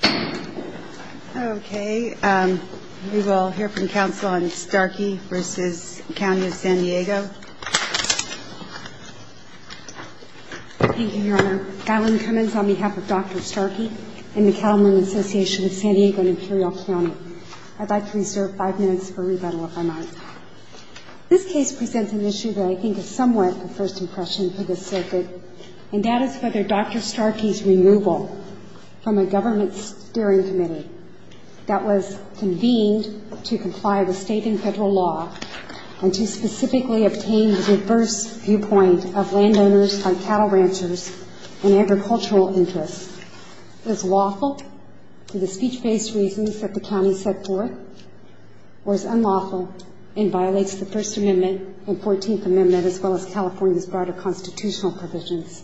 Thank you, Your Honor. Gailen Cummins on behalf of Dr. Starkey and the Calhoun Association of San Diego and Imperial County. I'd like to reserve five minutes for rebuttal, if I might. This case presents an issue that I think is somewhat a first impression for this circuit, and that is whether Dr. Starkey's removal from a government steering committee that was convened to comply with state and federal law and to specifically obtain the reverse viewpoint of landowners by cattle ranchers and agricultural interests is lawful for the speech-based reasons that the county set forth or is unlawful and violates the First Amendment and Fourteenth Amendment as well as California's broader constitutional provisions.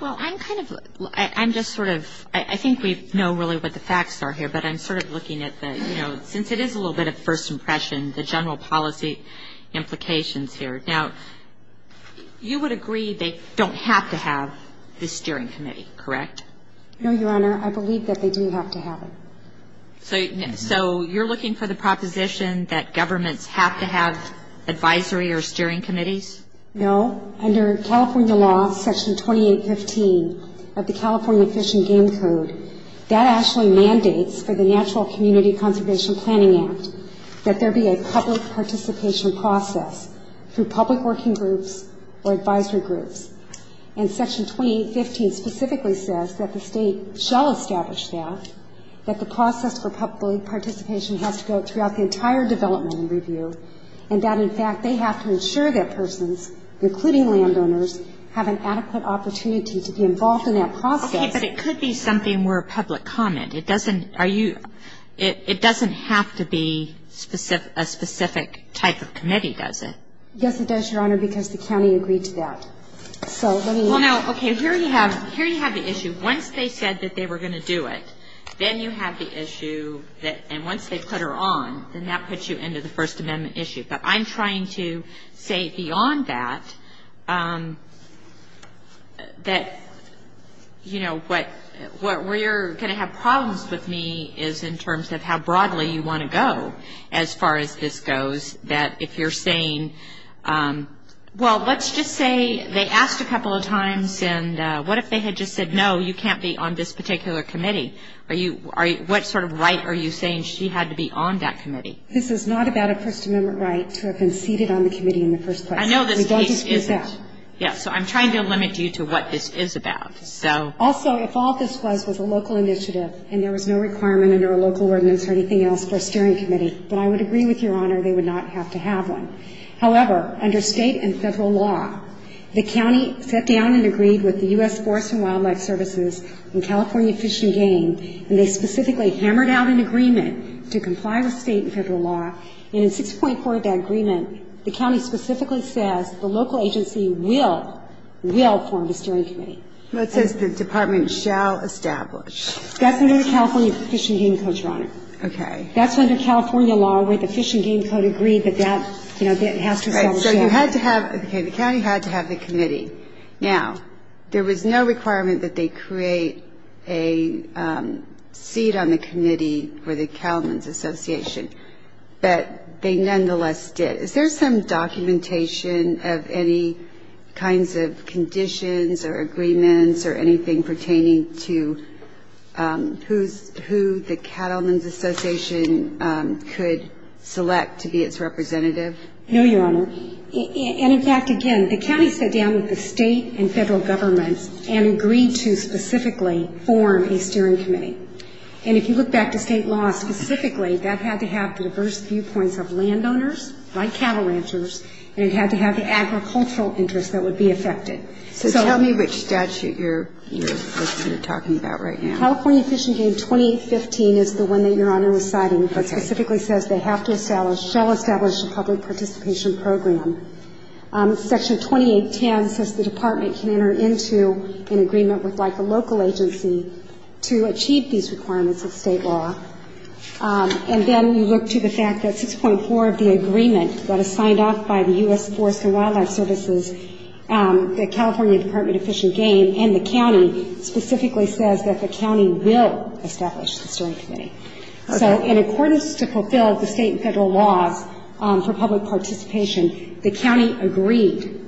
Well, I'm kind of ‑‑ I'm just sort of ‑‑ I think we know really what the facts are here, but I'm sort of looking at the, you know, since it is a little bit of first impression, the general policy implications here. Now, you would agree they don't have to have this steering committee, correct? No, Your Honor. I believe that they do have to have it. So you're looking for the proposition that governments have to have advisory or steering committees? No. Under California law, Section 2815 of the California Fish and Game Code, that actually mandates for the Natural Community Conservation Planning Act that there be a public participation process through public working groups or advisory groups. And Section 2815 specifically says that the State shall establish that, that the process for public participation has to go throughout the entire development and review, and that, in fact, they have to ensure that persons, including landowners, have an adequate opportunity to be involved in that process. Okay. But it could be something more public comment. It doesn't ‑‑ are you ‑‑ it doesn't have to be a specific type of committee, does it? Yes, it does, Your Honor, because the county agreed to that. So let me ‑‑ Well, now, okay, here you have ‑‑ here you have the issue. Once they said that they were going to do it, then you have the issue that, and once they put her on, then that puts you into the First Amendment issue. But I'm trying to say beyond that, that, you know, what ‑‑ where you're going to have problems with me is in terms of how broadly you want to go as far as this goes, that if you're saying, well, let's just say they asked a lot of times, and what if they had just said, no, you can't be on this particular committee? Are you ‑‑ what sort of right are you saying she had to be on that committee? This is not about a First Amendment right to have been seated on the committee in the first place. I know this case isn't. We don't dispute that. Yeah. So I'm trying to limit you to what this is about. So ‑‑ Also, if all this was was a local initiative and there was no requirement under a local ordinance or anything else for a steering committee, then I would agree with Your Honor they would not have to have one. However, under State and Federal law, the county sat down and agreed with the U.S. Forest and Wildlife Services and California Fish and Game, and they specifically hammered out an agreement to comply with State and Federal law, and in 6.4 of that agreement, the county specifically says the local agency will, will form the steering committee. Well, it says the department shall establish. That's under the California Fish and Game Code, Your Honor. Okay. That's under California law where the Fish and Game Code agreed that that, you know, has to establish. So you had to have ‑‑ okay. The county had to have the committee. Now, there was no requirement that they create a seat on the committee for the Cattlemen's Association, but they nonetheless did. Is there some documentation of any kinds of conditions or agreements or anything pertaining to who's ‑‑ who the Cattlemen's Association could select to be its representative? No, Your Honor. And, in fact, again, the county sat down with the State and Federal governments and agreed to specifically form a steering committee. And if you look back to State law specifically, that had to have the diverse viewpoints of landowners like cattle ranchers, and it had to have the agricultural interests that would be affected. So tell me which statute you're talking about right now. California Fish and Game 2015 is the one that Your Honor was citing. Okay. And it specifically says they have to establish ‑‑ shall establish a public participation program. Section 2810 says the Department can enter into an agreement with, like, a local agency to achieve these requirements of State law. And then you look to the fact that 6.4 of the agreement that is signed off by the U.S. Forest and Wildlife Services, the California Department of Fish and Game and the county specifically says that the county will establish the steering committee. Okay. So in accordance to fulfill the State and Federal laws for public participation, the county agreed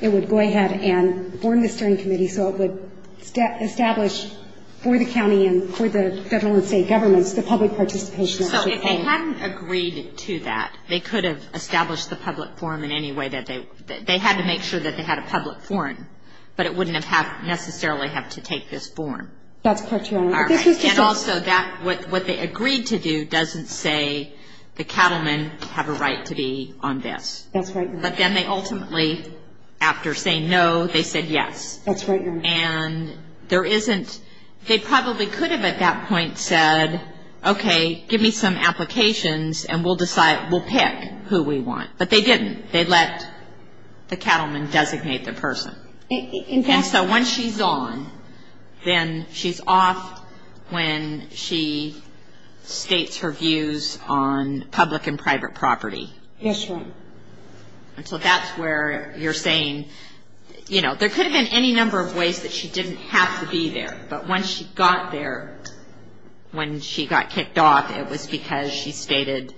it would go ahead and form the steering committee so it would establish for the county and for the Federal and State governments the public participation. So if they hadn't agreed to that, they could have established the public forum in any way that they ‑‑ they had to make sure that they had a public forum, but it wouldn't have necessarily have to take this forum. That's correct, Your Honor. All right. And also that what they agreed to do doesn't say the cattlemen have a right to be on this. That's right, Your Honor. But then they ultimately, after saying no, they said yes. That's right, Your Honor. And there isn't ‑‑ they probably could have at that point said, okay, give me some applications and we'll decide ‑‑ we'll pick who we want. But they didn't. They let the cattlemen designate the person. In fact ‑‑ Okay, so once she's on, then she's off when she states her views on public and private property. That's right. And so that's where you're saying, you know, there could have been any number of ways that she didn't have to be there, but once she got there, when she got kicked off, it was because she stated,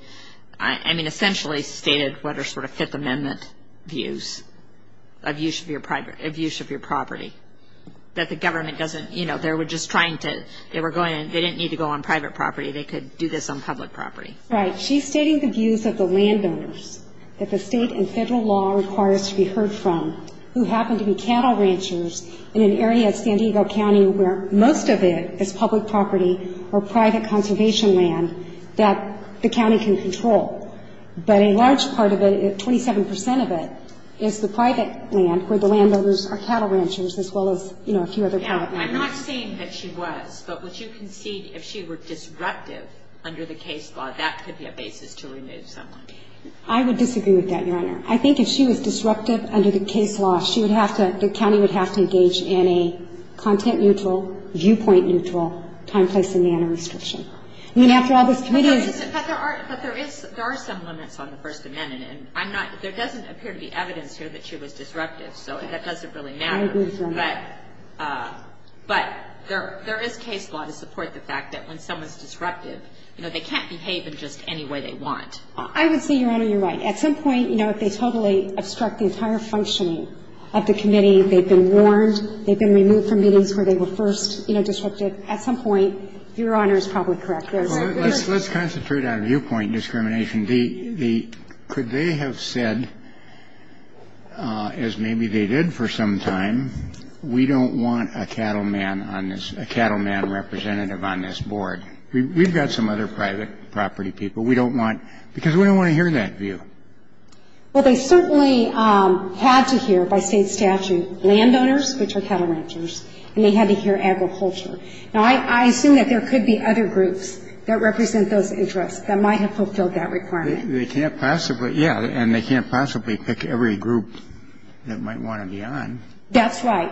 I mean, essentially stated what are sort of amendment views of use of your property, that the government doesn't, you know, they were just trying to ‑‑ they didn't need to go on private property. They could do this on public property. Right. She's stating the views of the landowners that the state and federal law requires to be heard from who happen to be cattle ranchers in an area of San Diego County where most of it is public property or private conservation land that the county can control. But a large part of it, 27% of it, is the private land where the landowners are cattle ranchers as well as, you know, a few other private landowners. Now, I'm not saying that she was, but would you concede if she were disruptive under the case law, that could be a basis to remove someone? I would disagree with that, Your Honor. I think if she was disruptive under the case law, she would have to ‑‑ the county would have to engage in a content neutral, viewpoint neutral, time, place and manner restriction. I mean, after all, this committee is ‑‑ But there are ‑‑ but there is ‑‑ there are some limits on the First Amendment, and I'm not ‑‑ there doesn't appear to be evidence here that she was disruptive, so that doesn't really matter. I agree with you on that. But there is case law to support the fact that when someone is disruptive, you know, they can't behave in just any way they want. I would say, Your Honor, you're right. At some point, you know, if they totally obstruct the entire functioning of the committee, they've been warned, they've been removed from meetings where they were first, you know, disruptive, at some point. Your Honor is probably correct. Let's concentrate on viewpoint discrimination. Could they have said, as maybe they did for some time, we don't want a cattleman on this ‑‑ a cattleman representative on this board? We've got some other private property people we don't want, because we don't want to hear that view. Well, they certainly had to hear, by State statute, landowners, which are cattle ranchers, and they had to hear agriculture. Now, I assume that there could be other groups that represent those interests that might have fulfilled that requirement. They can't possibly, yeah, and they can't possibly pick every group that might want to be on. That's right.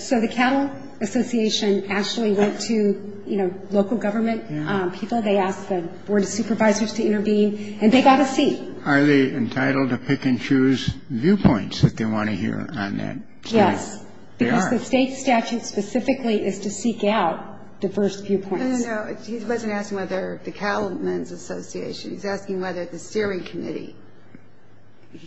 So the Cattle Association actually went to, you know, local government people. They asked the Board of Supervisors to intervene, and they got a C. Are they entitled to pick and choose viewpoints that they want to hear on that? Yes. They are. Because the State statute specifically is to seek out diverse viewpoints. No, no, no. He wasn't asking whether the Cattleman's Association. He's asking whether the Steering Committee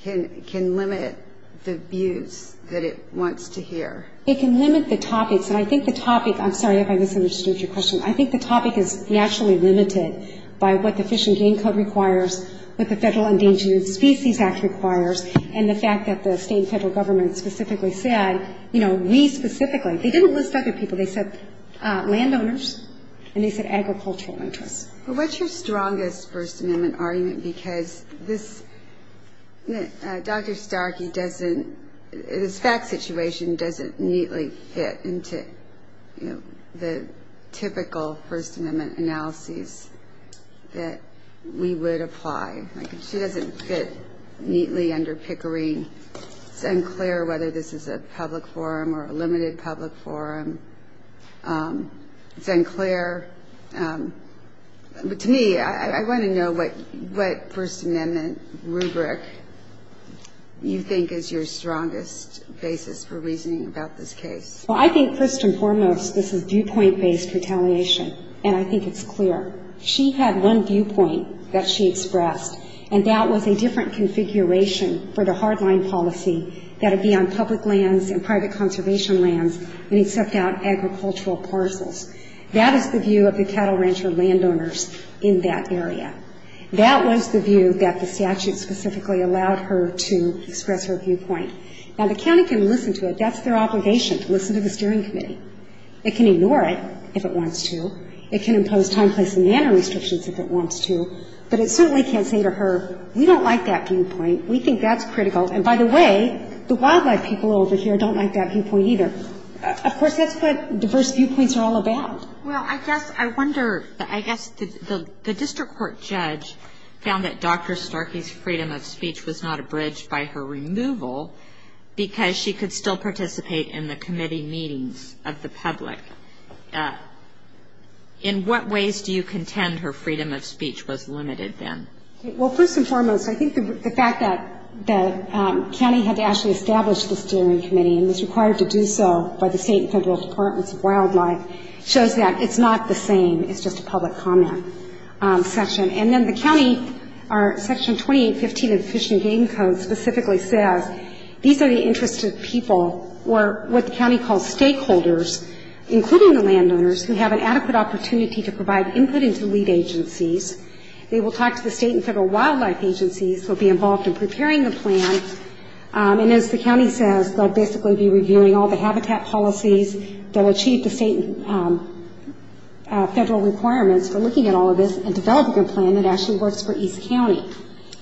can limit the views that it wants to hear. It can limit the topics, and I think the topic ‑‑ I'm sorry if I misunderstood your question. I think the topic is naturally limited by what the Fish and Game Code requires, what the Federal Endangered Species Act requires, and the fact that the state and federal government specifically said, you know, we specifically. They didn't list other people. They said landowners, and they said agricultural interests. But what's your strongest First Amendment argument? Because this ‑‑ Dr. Starkey doesn't ‑‑ this fact situation doesn't neatly fit into, you know, the typical First Amendment analyses that we would apply. She doesn't fit neatly under Pickering. Sinclair, whether this is a public forum or a limited public forum. Sinclair. But to me, I want to know what First Amendment rubric you think is your strongest basis for reasoning about this case. Well, I think first and foremost this is viewpoint‑based retaliation, and I think it's clear. She had one viewpoint that she expressed, and that was a different configuration for the hardline policy that would be on public lands and private conservation lands and accept out agricultural parcels. That is the view of the cattle rancher landowners in that area. That was the view that the statute specifically allowed her to express her viewpoint. Now, the county can listen to it. That's their obligation, to listen to the steering committee. It can ignore it if it wants to. It can impose time, place and manner restrictions if it wants to. But it certainly can't say to her, we don't like that viewpoint. We think that's critical. And by the way, the wildlife people over here don't like that viewpoint either. Of course, that's what diverse viewpoints are all about. Well, I guess I wonder, I guess the district court judge found that Dr. Starkey's freedom of speech was not abridged by her removal because she could still participate in the committee meetings of the public. In what ways do you contend her freedom of speech was limited then? Well, first and foremost, I think the fact that the county had to actually establish the steering committee and was required to do so by the state and federal departments of wildlife shows that it's not the same. It's just a public comment section. And then the county, Section 2815 of the Fish and Game Code specifically says these are the interested people or what the county calls stakeholders including the landowners who have an adequate opportunity to provide input into lead agencies. They will talk to the state and federal wildlife agencies who will be involved in preparing the plan. And as the county says, they'll basically be reviewing all the habitat policies that will achieve the state and federal requirements for looking at all of this and developing a plan that actually works for East County.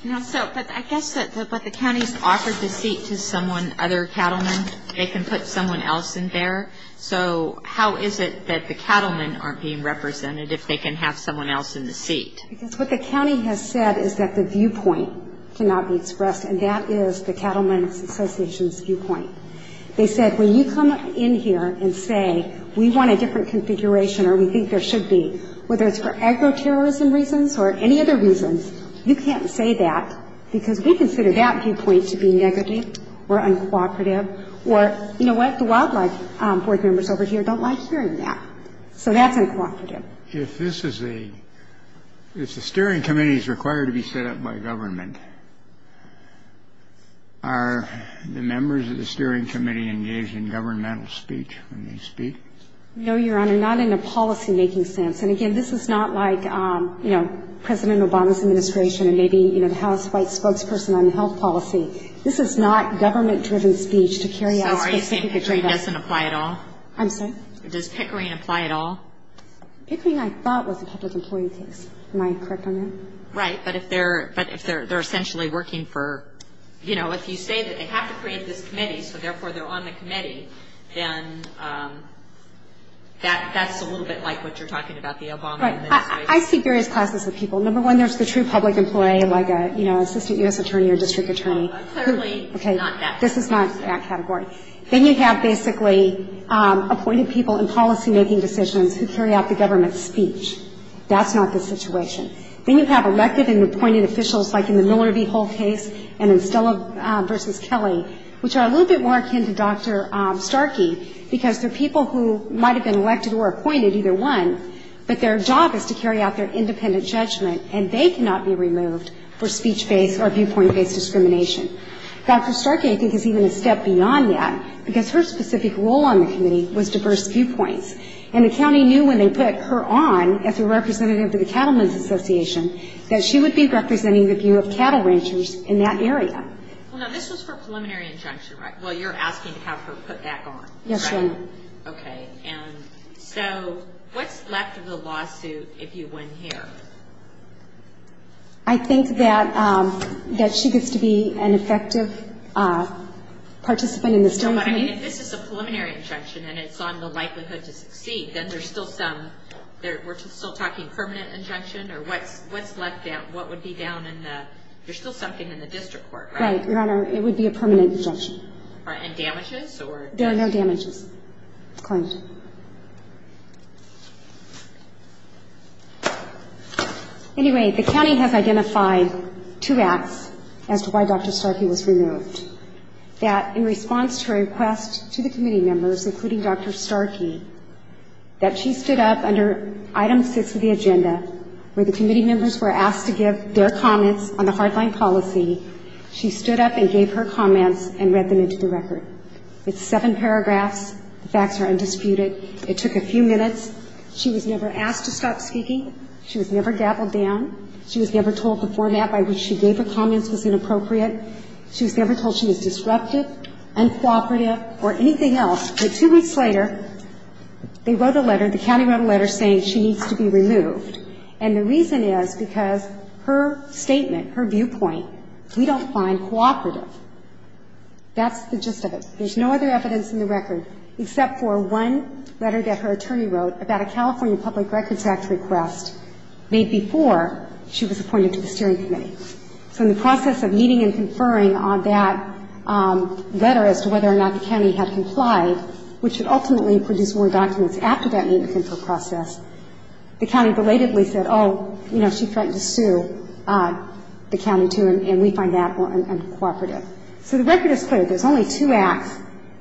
But I guess the county's offered the seat to someone, other cattlemen. They can put someone else in there. So how is it that the cattlemen aren't being represented if they can have someone else in the seat? Because what the county has said is that the viewpoint cannot be expressed, and that is the Cattlemen's Association's viewpoint. They said when you come in here and say we want a different configuration or we think there should be, whether it's for agroterrorism reasons or any other reasons, you can't say that because we consider that viewpoint to be negative or uncooperative. We can't say well, we don't like this viewpoint, we don't like that viewpoint, or you know what? The wildlife board members over here don't like hearing that. So that's uncooperative. If this is a — if the steering committee is required to be set up by government, are the members of the steering committee engaged in governmental speech when they speak? No, Your Honor, not in a policymaking sense. And, again, this is not like, you know, President Obama's administration and maybe, you know, the House White Spokesperson on health policy. This is not government-driven speech to carry out specific agenda. So are you saying Pickering doesn't apply at all? I'm sorry? Does Pickering apply at all? Pickering, I thought, was a public employee case. Am I correct on that? Right. But if they're essentially working for — you know, if you say that they have to create this committee, so therefore they're on the committee, then that's a little bit like what you're talking about, the Obama administration. Right. I see various classes of people. Number one, there's the true public employee, like, you know, assistant U.S. attorney or district attorney. Clearly not that category. This is not that category. Then you have basically appointed people in policymaking decisions who carry out the government's speech. That's not the situation. Then you have elected and appointed officials, like in the Miller v. Hull case and in Stella v. Kelly, which are a little bit more akin to Dr. Starkey, because they're people who might have been elected or appointed, either one, but their job is to carry out their independent judgment, and they cannot be removed for speech-based or viewpoint-based discrimination. Dr. Starkey, I think, is even a step beyond that, because her specific role on the committee was diverse viewpoints. And the county knew when they put her on as a representative of the Cattlemen's Association that she would be representing the view of cattle ranchers in that area. Well, now, this was her preliminary injunction, right? Well, you're asking to have her put back on. Yes, ma'am. Okay. And so what's left of the lawsuit if you win here? I think that she gets to be an effective participant in the Stone committee. No, but I mean, if this is a preliminary injunction and it's on the likelihood to succeed, then there's still some – we're still talking permanent injunction? Or what's left down? What would be down in the – you're still something in the district court, right? Right, Your Honor. It would be a permanent injunction. And damages? There are no damages claimed. Anyway, the county has identified two acts as to why Dr. Starkey was removed, that in response to her request to the committee members, including Dr. Starkey, that she stood up under item six of the agenda, where the committee members were asked to give their comments on the hardline policy. She stood up and gave her comments and read them into the record. It's seven paragraphs. The facts are undisputed. It took a few minutes. She was never asked to stop speaking. She was never dabbled down. She was never told the format by which she gave her comments was inappropriate. She was never told she was disruptive, uncooperative, or anything else. But two weeks later, they wrote a letter, the county wrote a letter, saying she needs to be removed. And the reason is because her statement, her viewpoint, we don't find cooperative. That's the gist of it. There's no other evidence in the record except for one letter that her attorney wrote about a California Public Records Act request made before she was appointed to the steering committee. So in the process of meeting and conferring on that letter as to whether or not the county had complied, which would ultimately produce more documents after that meeting and confer process, the county belatedly said, oh, you know, she threatened to sue the county, too, and we find that uncooperative. So the record is clear. There's only two acts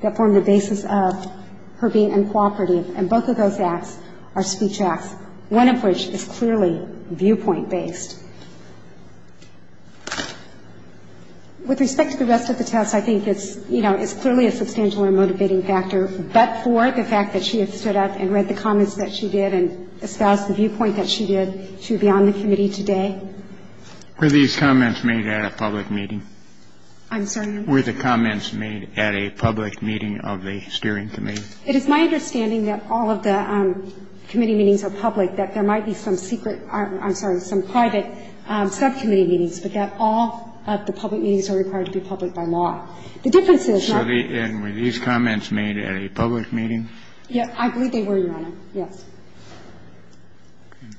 that form the basis of her being uncooperative, and both of those acts are speech acts, one of which is clearly viewpoint-based. With respect to the rest of the test, I think it's, you know, it's clearly a substantial and motivating factor, but for the fact that she had stood up and read the comments that she did and espoused the viewpoint that she did, she would be on the committee today. Were these comments made at a public meeting? I'm sorry? Were the comments made at a public meeting of the steering committee? It is my understanding that all of the committee meetings are public, that there might be some secret or, I'm sorry, some private subcommittee meetings, but that all of the public meetings are required to be public by law. The difference is not that. So were these comments made at a public meeting? Yeah. I believe they were, Your Honor. Yes. Okay.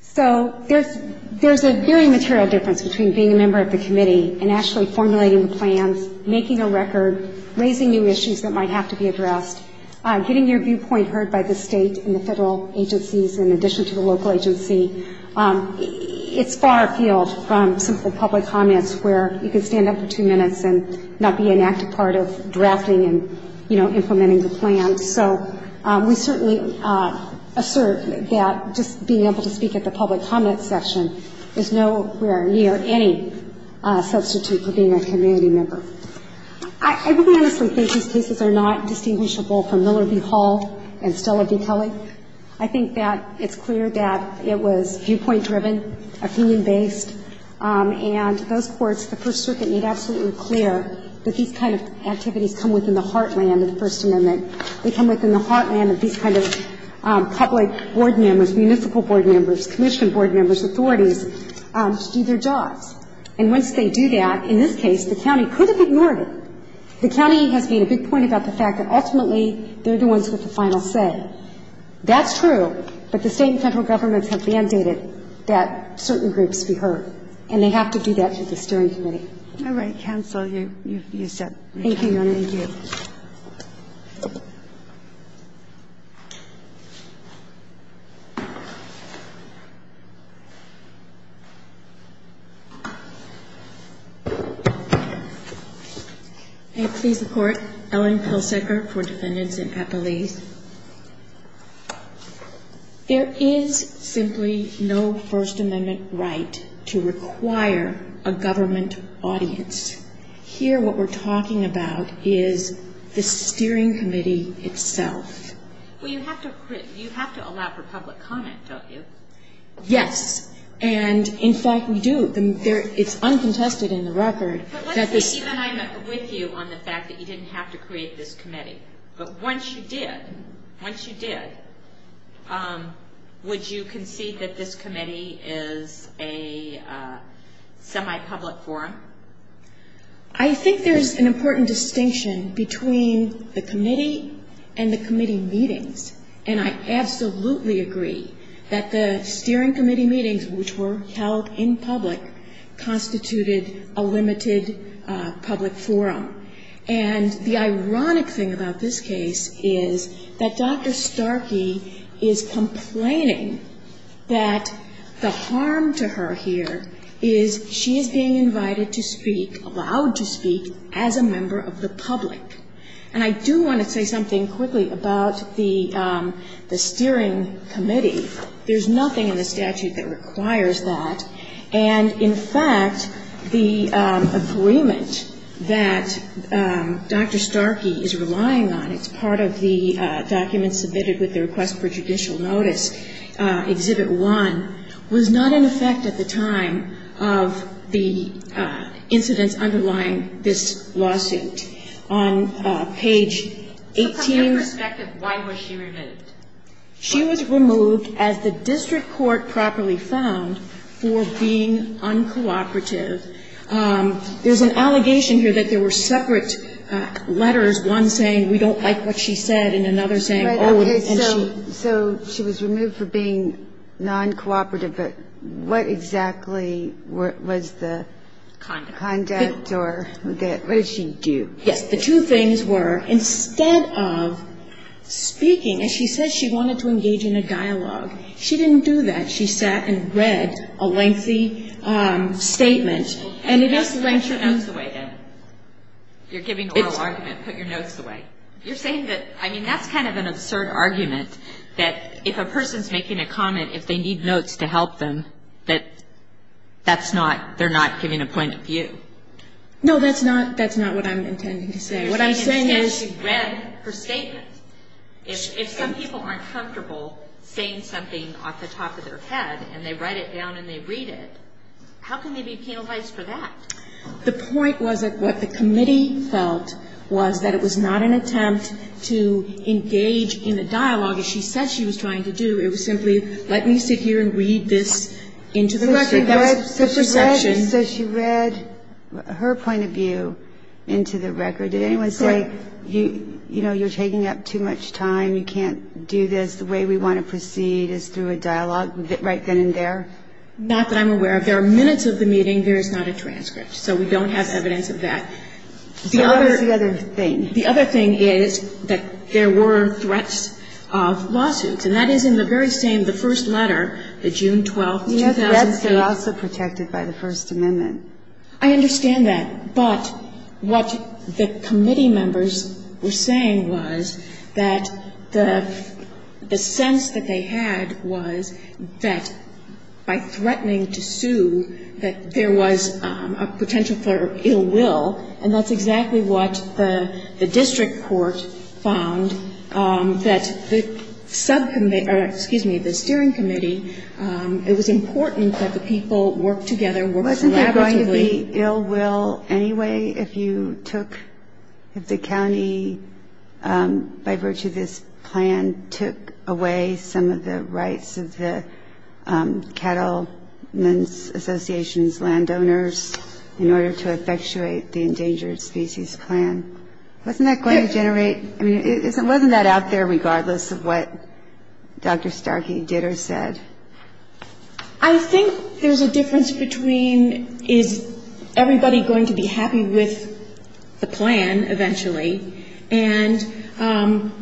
So there's a very material difference between being a member of the committee and actually formulating the plans, making a record, raising new issues that might have to be addressed, getting your viewpoint heard by the state and the federal agencies in addition to the local agency. It's far afield from simple public comments where you can stand up for two minutes and not be an active part of drafting and, you know, implementing the plan. So we certainly assert that just being able to speak at the public comment section is nowhere near any substitute for being a community member. I really honestly think these cases are not distinguishable from Miller v. Hall and Stella v. Kelly. I think that it's clear that it was viewpoint-driven, opinion-based, and those courts, the First Circuit, made absolutely clear that these kind of activities come within the heartland of the First Amendment. They come within the heartland of these kind of public board members, municipal board members, commission board members, authorities, to do their jobs. And once they do that, in this case, the county could have ignored it. The county has made a big point about the fact that ultimately they're the ones with the final say. That's true, but the state and federal governments have mandated that certain groups be heard, and they have to do that through the steering committee. All right. Counsel, you're set. Thank you, Your Honor. Thank you. May it please the Court, Ellen Pilsaker for defendants in Appalachia. There is simply no First Amendment right to require a government audience. Here, what we're talking about is a government audience. And what we're talking about is the steering committee itself. Well, you have to allow for public comment, don't you? Yes. And, in fact, we do. It's uncontested in the record. But let's say even I'm with you on the fact that you didn't have to create this committee. But once you did, once you did, would you concede that this committee is a semi-public forum? Between the committee and the committee meetings, and I absolutely agree that the steering committee meetings, which were held in public, constituted a limited public forum. And the ironic thing about this case is that Dr. Starkey is complaining that the harm to her here is she is being invited to speak, allowed to speak, as a member of the public. And I do want to say something quickly about the steering committee. There's nothing in the statute that requires that. And, in fact, the agreement that Dr. Starkey is relying on, it's part of the document submitted with the request for judicial notice, Exhibit 1, was not in effect at the time of the incidents underlying this lawsuit. On page 18. So from your perspective, why was she removed? She was removed, as the district court properly found, for being uncooperative. There's an allegation here that there were separate letters, one saying, we don't like what she said, and another saying, we don't like what she said. So she was removed for being uncooperative, but what exactly was the conduct or what did she do? Yes, the two things were, instead of speaking, as she said she wanted to engage in a dialogue, she didn't do that. She sat and read a lengthy statement, and it is lengthy. Put your notes away, then. You're giving an oral argument. Put your notes away. You're saying that, I mean, that's kind of an absurd argument, that if a person's making a comment, if they need notes to help them, that that's not, they're not giving a point of view. No, that's not, that's not what I'm intending to say. What I'm saying is. She read her statement. If some people aren't comfortable saying something off the top of their head, and they write it down and they read it, how can they be penalized for that? The point was that what the committee felt was that it was not an attempt to engage in a dialogue, as she said she was trying to do. It was simply, let me sit here and read this into the record. That was the perception. So she read her point of view into the record. Did anyone say, you know, you're taking up too much time, you can't do this, the way we want to proceed is through a dialogue right then and there? Not that I'm aware of. There are minutes of the meeting. There is not a transcript. So we don't have evidence of that. The other. What was the other thing? The other thing is that there were threats of lawsuits. And that is in the very same, the first letter, the June 12th, 2006. You know, threats are also protected by the First Amendment. I understand that. But what the committee members were saying was that the sense that they had was that by threatening to sue, that there was a potential for ill will, and that's exactly what the district court found, that the subcommittee, or excuse me, the steering committee, it was important that the people work together, work collaboratively. Was there any ill will anyway if you took, if the county, by virtue of this plan, took away some of the rights of the Cattlemen's Association's landowners in order to effectuate the Endangered Species Plan? Wasn't that going to generate, I mean, wasn't that out there regardless of what Dr. Starkey did or said? I think there's a difference between is everybody going to be happy with the plan eventually, and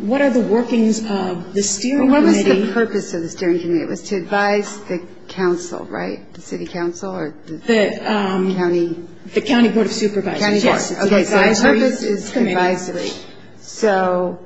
what are the workings of the steering committee? What was the purpose of the steering committee? It was to advise the council, right, the city council or the county? The county board of supervisors, yes. Okay. So its purpose is advisory. So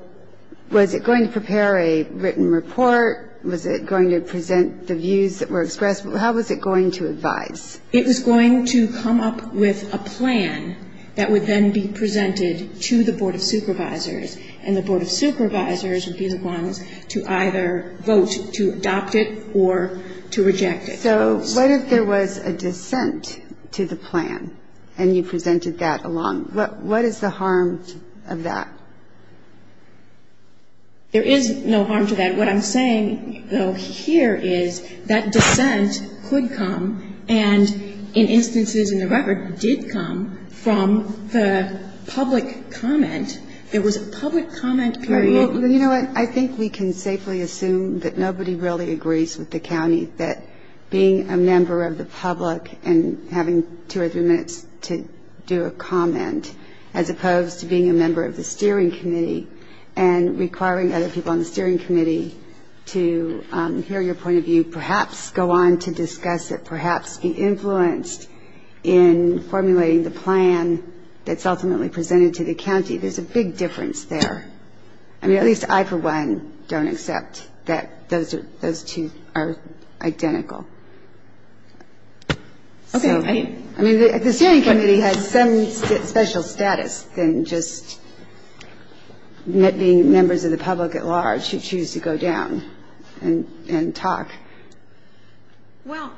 was it going to prepare a written report? Was it going to present the views that were expressed? How was it going to advise? It was going to come up with a plan that would then be presented to the board of supervisors, and the board of supervisors would be the ones to either vote to adopt it or to reject it. So what if there was a dissent to the plan and you presented that along? What is the harm of that? There is no harm to that. What I'm saying, though, here is that dissent could come, and in instances in the record did come from the public comment. There was a public comment period. Well, you know what? I think we can safely assume that nobody really agrees with the county that being a member of the public and having two or three minutes to do a comment, as opposed to being a member of the steering committee and requiring other people on the steering committee to hear your point of view, perhaps go on to discuss it, perhaps be influenced in formulating the plan that's ultimately presented to the county. There's a big difference there. I mean, at least I, for one, don't accept that those two are identical. Okay. I mean, the steering committee has some special status than just being members of the public at large who choose to go down and talk. Well,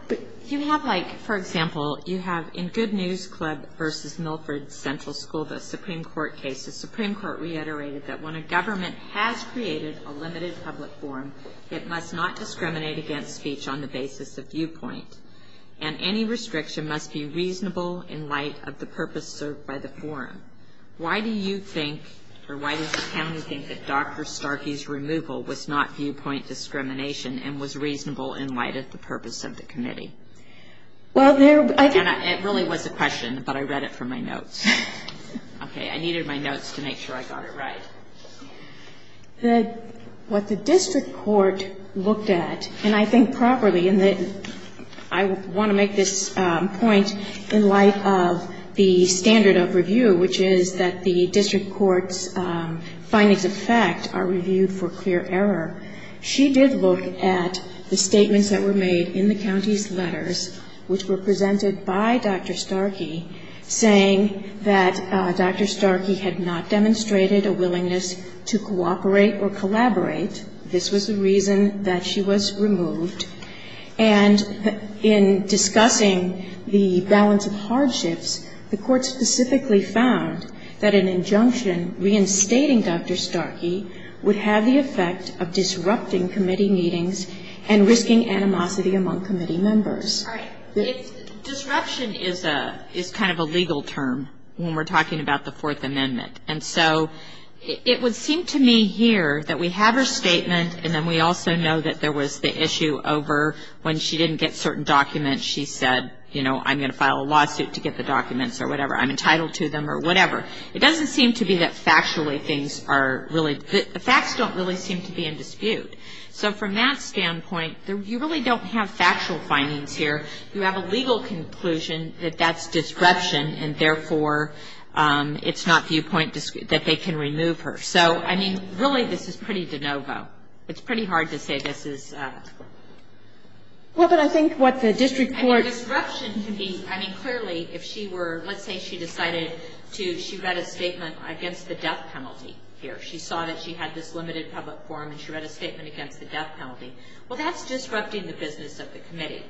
you have, like, for example, you have in Good News Club v. Milford Central School, the Supreme Court case, the Supreme Court reiterated that when a government has created a limited public forum, it must not discriminate against speech on the basis of viewpoint, and any restriction must be reasonable in light of the purpose served by the forum. Why do you think, or why does the county think, that Dr. Starkey's removal was not viewpoint discrimination and was reasonable in light of the purpose of the committee? Well, there, I think. And it really was a question, but I read it from my notes. Okay. I needed my notes to make sure I got it right. What the district court looked at, and I think properly, and I want to make this point in light of the standard of review, which is that the district court's findings of fact are reviewed for clear error. She did look at the statements that were made in the county's letters, which were presented by Dr. Starkey, saying that Dr. Starkey had not demonstrated a willingness to cooperate or collaborate. This was the reason that she was removed. And in discussing the balance of hardships, the court specifically found that an injunction reinstating Dr. Starkey would have the effect of disrupting committee meetings and risking animosity among committee members. All right. Disruption is kind of a legal term when we're talking about the Fourth Amendment. And so it would seem to me here that we have her statement, and then we also know that there was the issue over when she didn't get certain documents, she said, you know, I'm going to file a lawsuit to get the documents or whatever, I'm entitled to them or whatever. It doesn't seem to be that factually things are really, the facts don't really seem to be in dispute. So from that standpoint, you really don't have factual findings here. You have a legal conclusion that that's disruption, and therefore it's not viewpoint that they can remove her. So, I mean, really this is pretty de novo. It's pretty hard to say this is. Well, but I think what the district court. I think disruption can be, I mean, clearly if she were, let's say she decided to, she read a statement against the death penalty here. She saw that she had this limited public forum, and she read a statement against the death penalty. Well, that's disrupting the business of the committee.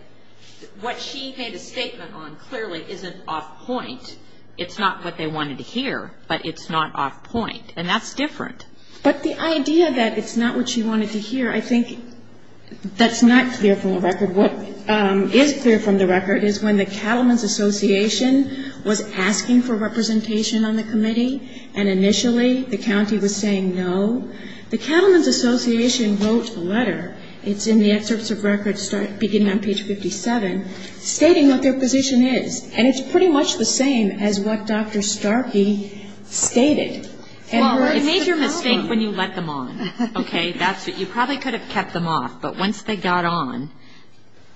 What she made a statement on clearly isn't off point. It's not what they wanted to hear, but it's not off point. And that's different. But the idea that it's not what she wanted to hear, I think that's not clear from the record. What is clear from the record is when the Cattlemen's Association was asking for representation on the committee, and initially the county was saying no, the Cattlemen's Association wrote a letter, it's in the excerpts of records beginning on page 57, stating what their position is. And it's pretty much the same as what Dr. Starkey stated. Well, it's the problem. You made your mistake when you let them on. Okay? You probably could have kept them off. But once they got on,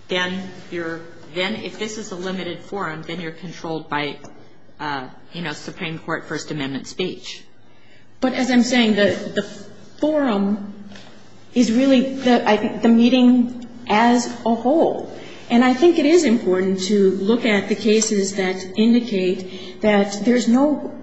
then you're, then if this is a limited forum, then you're controlled by, you know, Supreme Court First Amendment speech. But as I'm saying, the forum is really the meeting as a whole. And I think it is important to look at the cases that indicate that there's no,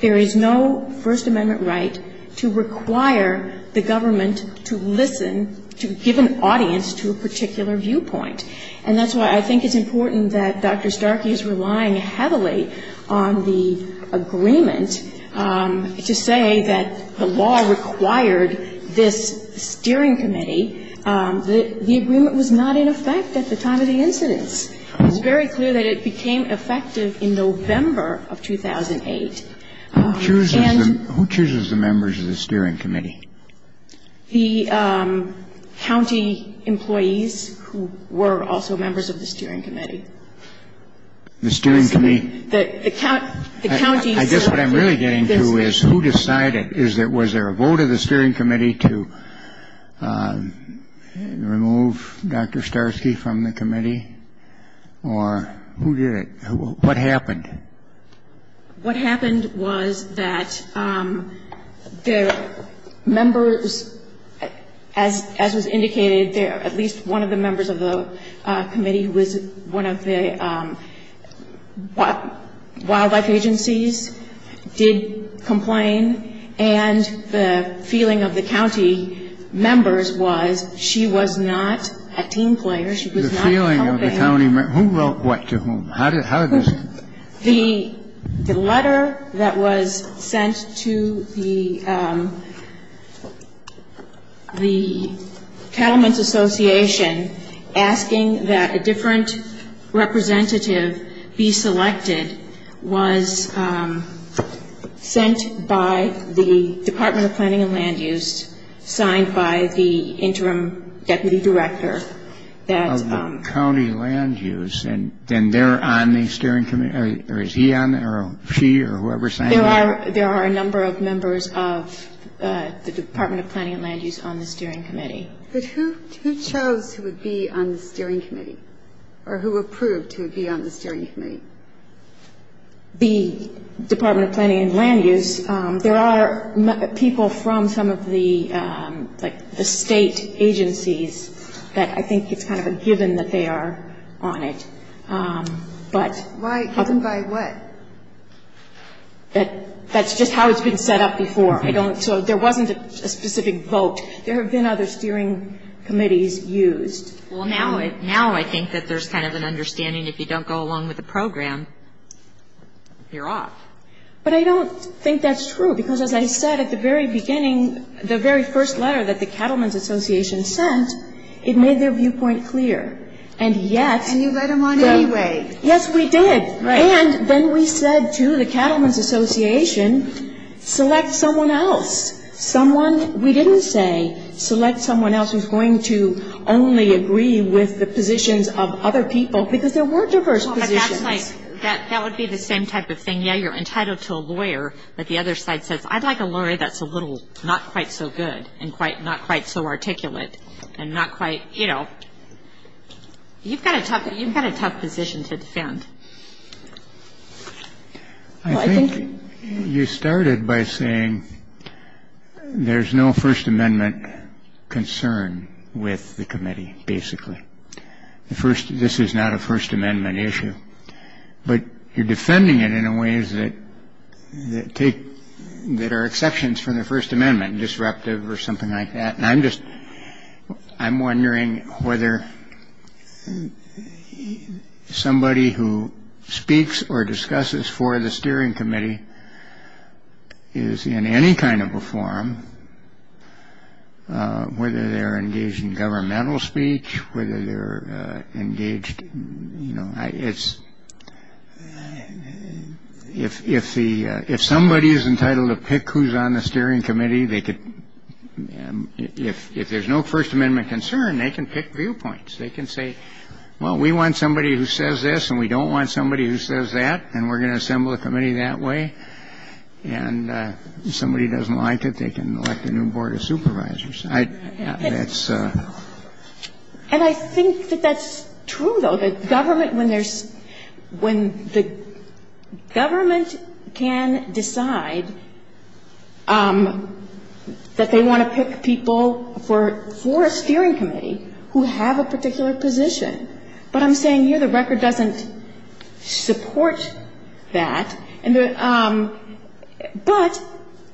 there is no First Amendment right to require the government to listen, to give an audience to a particular viewpoint. And that's why I think it's important that Dr. Starkey is relying heavily on the agreement to say that the law required this steering committee. The agreement was not in effect at the time of the incidents. It's very clear that it became effective in November of 2008. And the county employees who were on the steering committee, were also members of the steering committee. The steering committee? The county. I guess what I'm really getting to is who decided? Was there a vote of the steering committee to remove Dr. Starkey from the committee? Or who did it? What happened? What happened was that the members, as was indicated there, at least one of the members of the committee was one of the wildlife agencies did complain. And the feeling of the county members was she was not a team player. She was not a campaigner. The feeling of the county members. Who wrote what to whom? How did this happen? The letter that was sent to the Cattlemen's Association asking that a different representative be selected was sent by the Department of Planning and Land Use, signed by the interim deputy director. Of the county land use. And then they're on the steering committee? Or is he on? Or she? Or whoever signed it? There are a number of members of the Department of Planning and Land Use on the steering committee. But who chose who would be on the steering committee? Or who approved who would be on the steering committee? The Department of Planning and Land Use. And there are people from some of the, like, the state agencies that I think it's kind of a given that they are on it. But. Given by what? That's just how it's been set up before. So there wasn't a specific vote. There have been other steering committees used. Well, now I think that there's kind of an understanding if you don't go along with the program, you're off. But I don't think that's true. Because as I said at the very beginning, the very first letter that the Cattlemen's Association sent, it made their viewpoint clear. And yet. And you let them on anyway. Yes, we did. And then we said to the Cattlemen's Association, select someone else. Someone we didn't say, select someone else who's going to only agree with the positions of other people. Because there were diverse positions. Well, but that's like, that would be the same type of thing. Yeah, you're entitled to a lawyer. But the other side says, I'd like a lawyer that's a little not quite so good and not quite so articulate and not quite, you know. You've got a tough position to defend. I think you started by saying there's no First Amendment concern with the committee, basically. First, this is not a First Amendment issue. But you're defending it in a ways that take that are exceptions from the First Amendment, disruptive or something like that. I'm just I'm wondering whether somebody who speaks or discusses for the steering committee is in any kind of a forum, whether they're engaged in governmental speech, whether they're engaged. You know, it's if if the if somebody is entitled to pick who's on the steering committee, they could. If there's no First Amendment concern, they can pick viewpoints. They can say, well, we want somebody who says this and we don't want somebody who says that. And we're going to assemble a committee that way. And if somebody doesn't like it, they can elect a new board of supervisors. That's. And I think that that's true, though, that government when there's when the government can decide that they want to pick people for for a steering committee who have a particular position. But I'm saying here the record doesn't support that. And but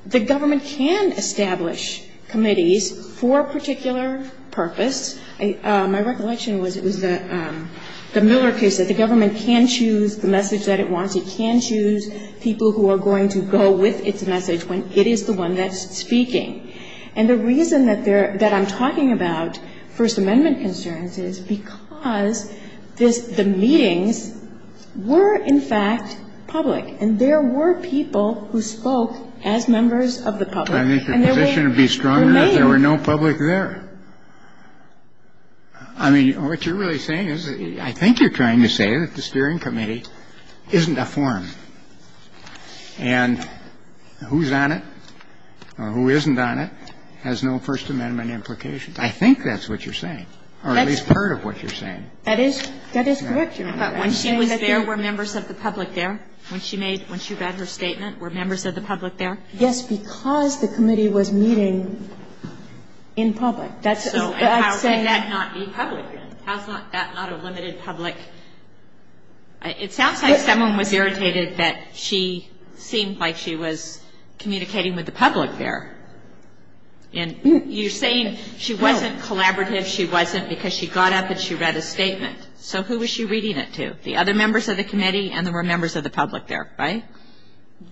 the government can establish committees for a particular purpose. My recollection was it was the Miller case that the government can choose the message that it wants. It can choose people who are going to go with its message when it is the one that's speaking. And the reason that they're that I'm talking about First Amendment concerns is because this the meetings were, in fact, public. And there were people who spoke as members of the public. I think the position would be stronger if there were no public there. I mean, what you're really saying is I think you're trying to say that the steering committee isn't a forum. And who's on it or who isn't on it has no First Amendment implications. I think that's what you're saying, or at least part of what you're saying. That is. That is correct, Your Honor. But when she was there, were members of the public there? When she made when she read her statement, were members of the public there? Yes, because the committee was meeting in public. That's. So how can that not be public? How is that not a limited public? It sounds like someone was irritated that she seemed like she was communicating with the public there. And you're saying she wasn't collaborative. She wasn't because she got up and she read a statement. So who was she reading it to? The other members of the committee and there were members of the public there, right?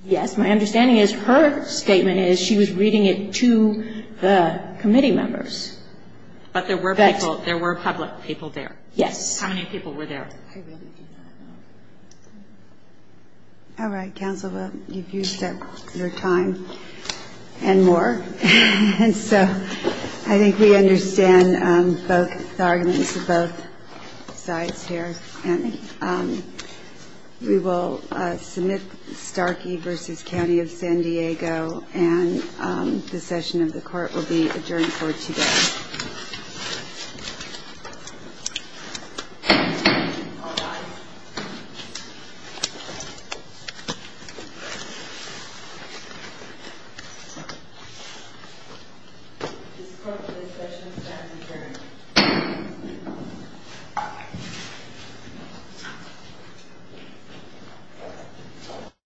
Yes. My understanding is her statement is she was reading it to the committee members. But there were people. There were public people there. Yes. How many people were there? I really do not know. All right, counsel. Well, you've used up your time and more. And so I think we understand both the arguments of both sides here. And we will submit Starkey v. County of San Diego. And the session of the court will be adjourned for today.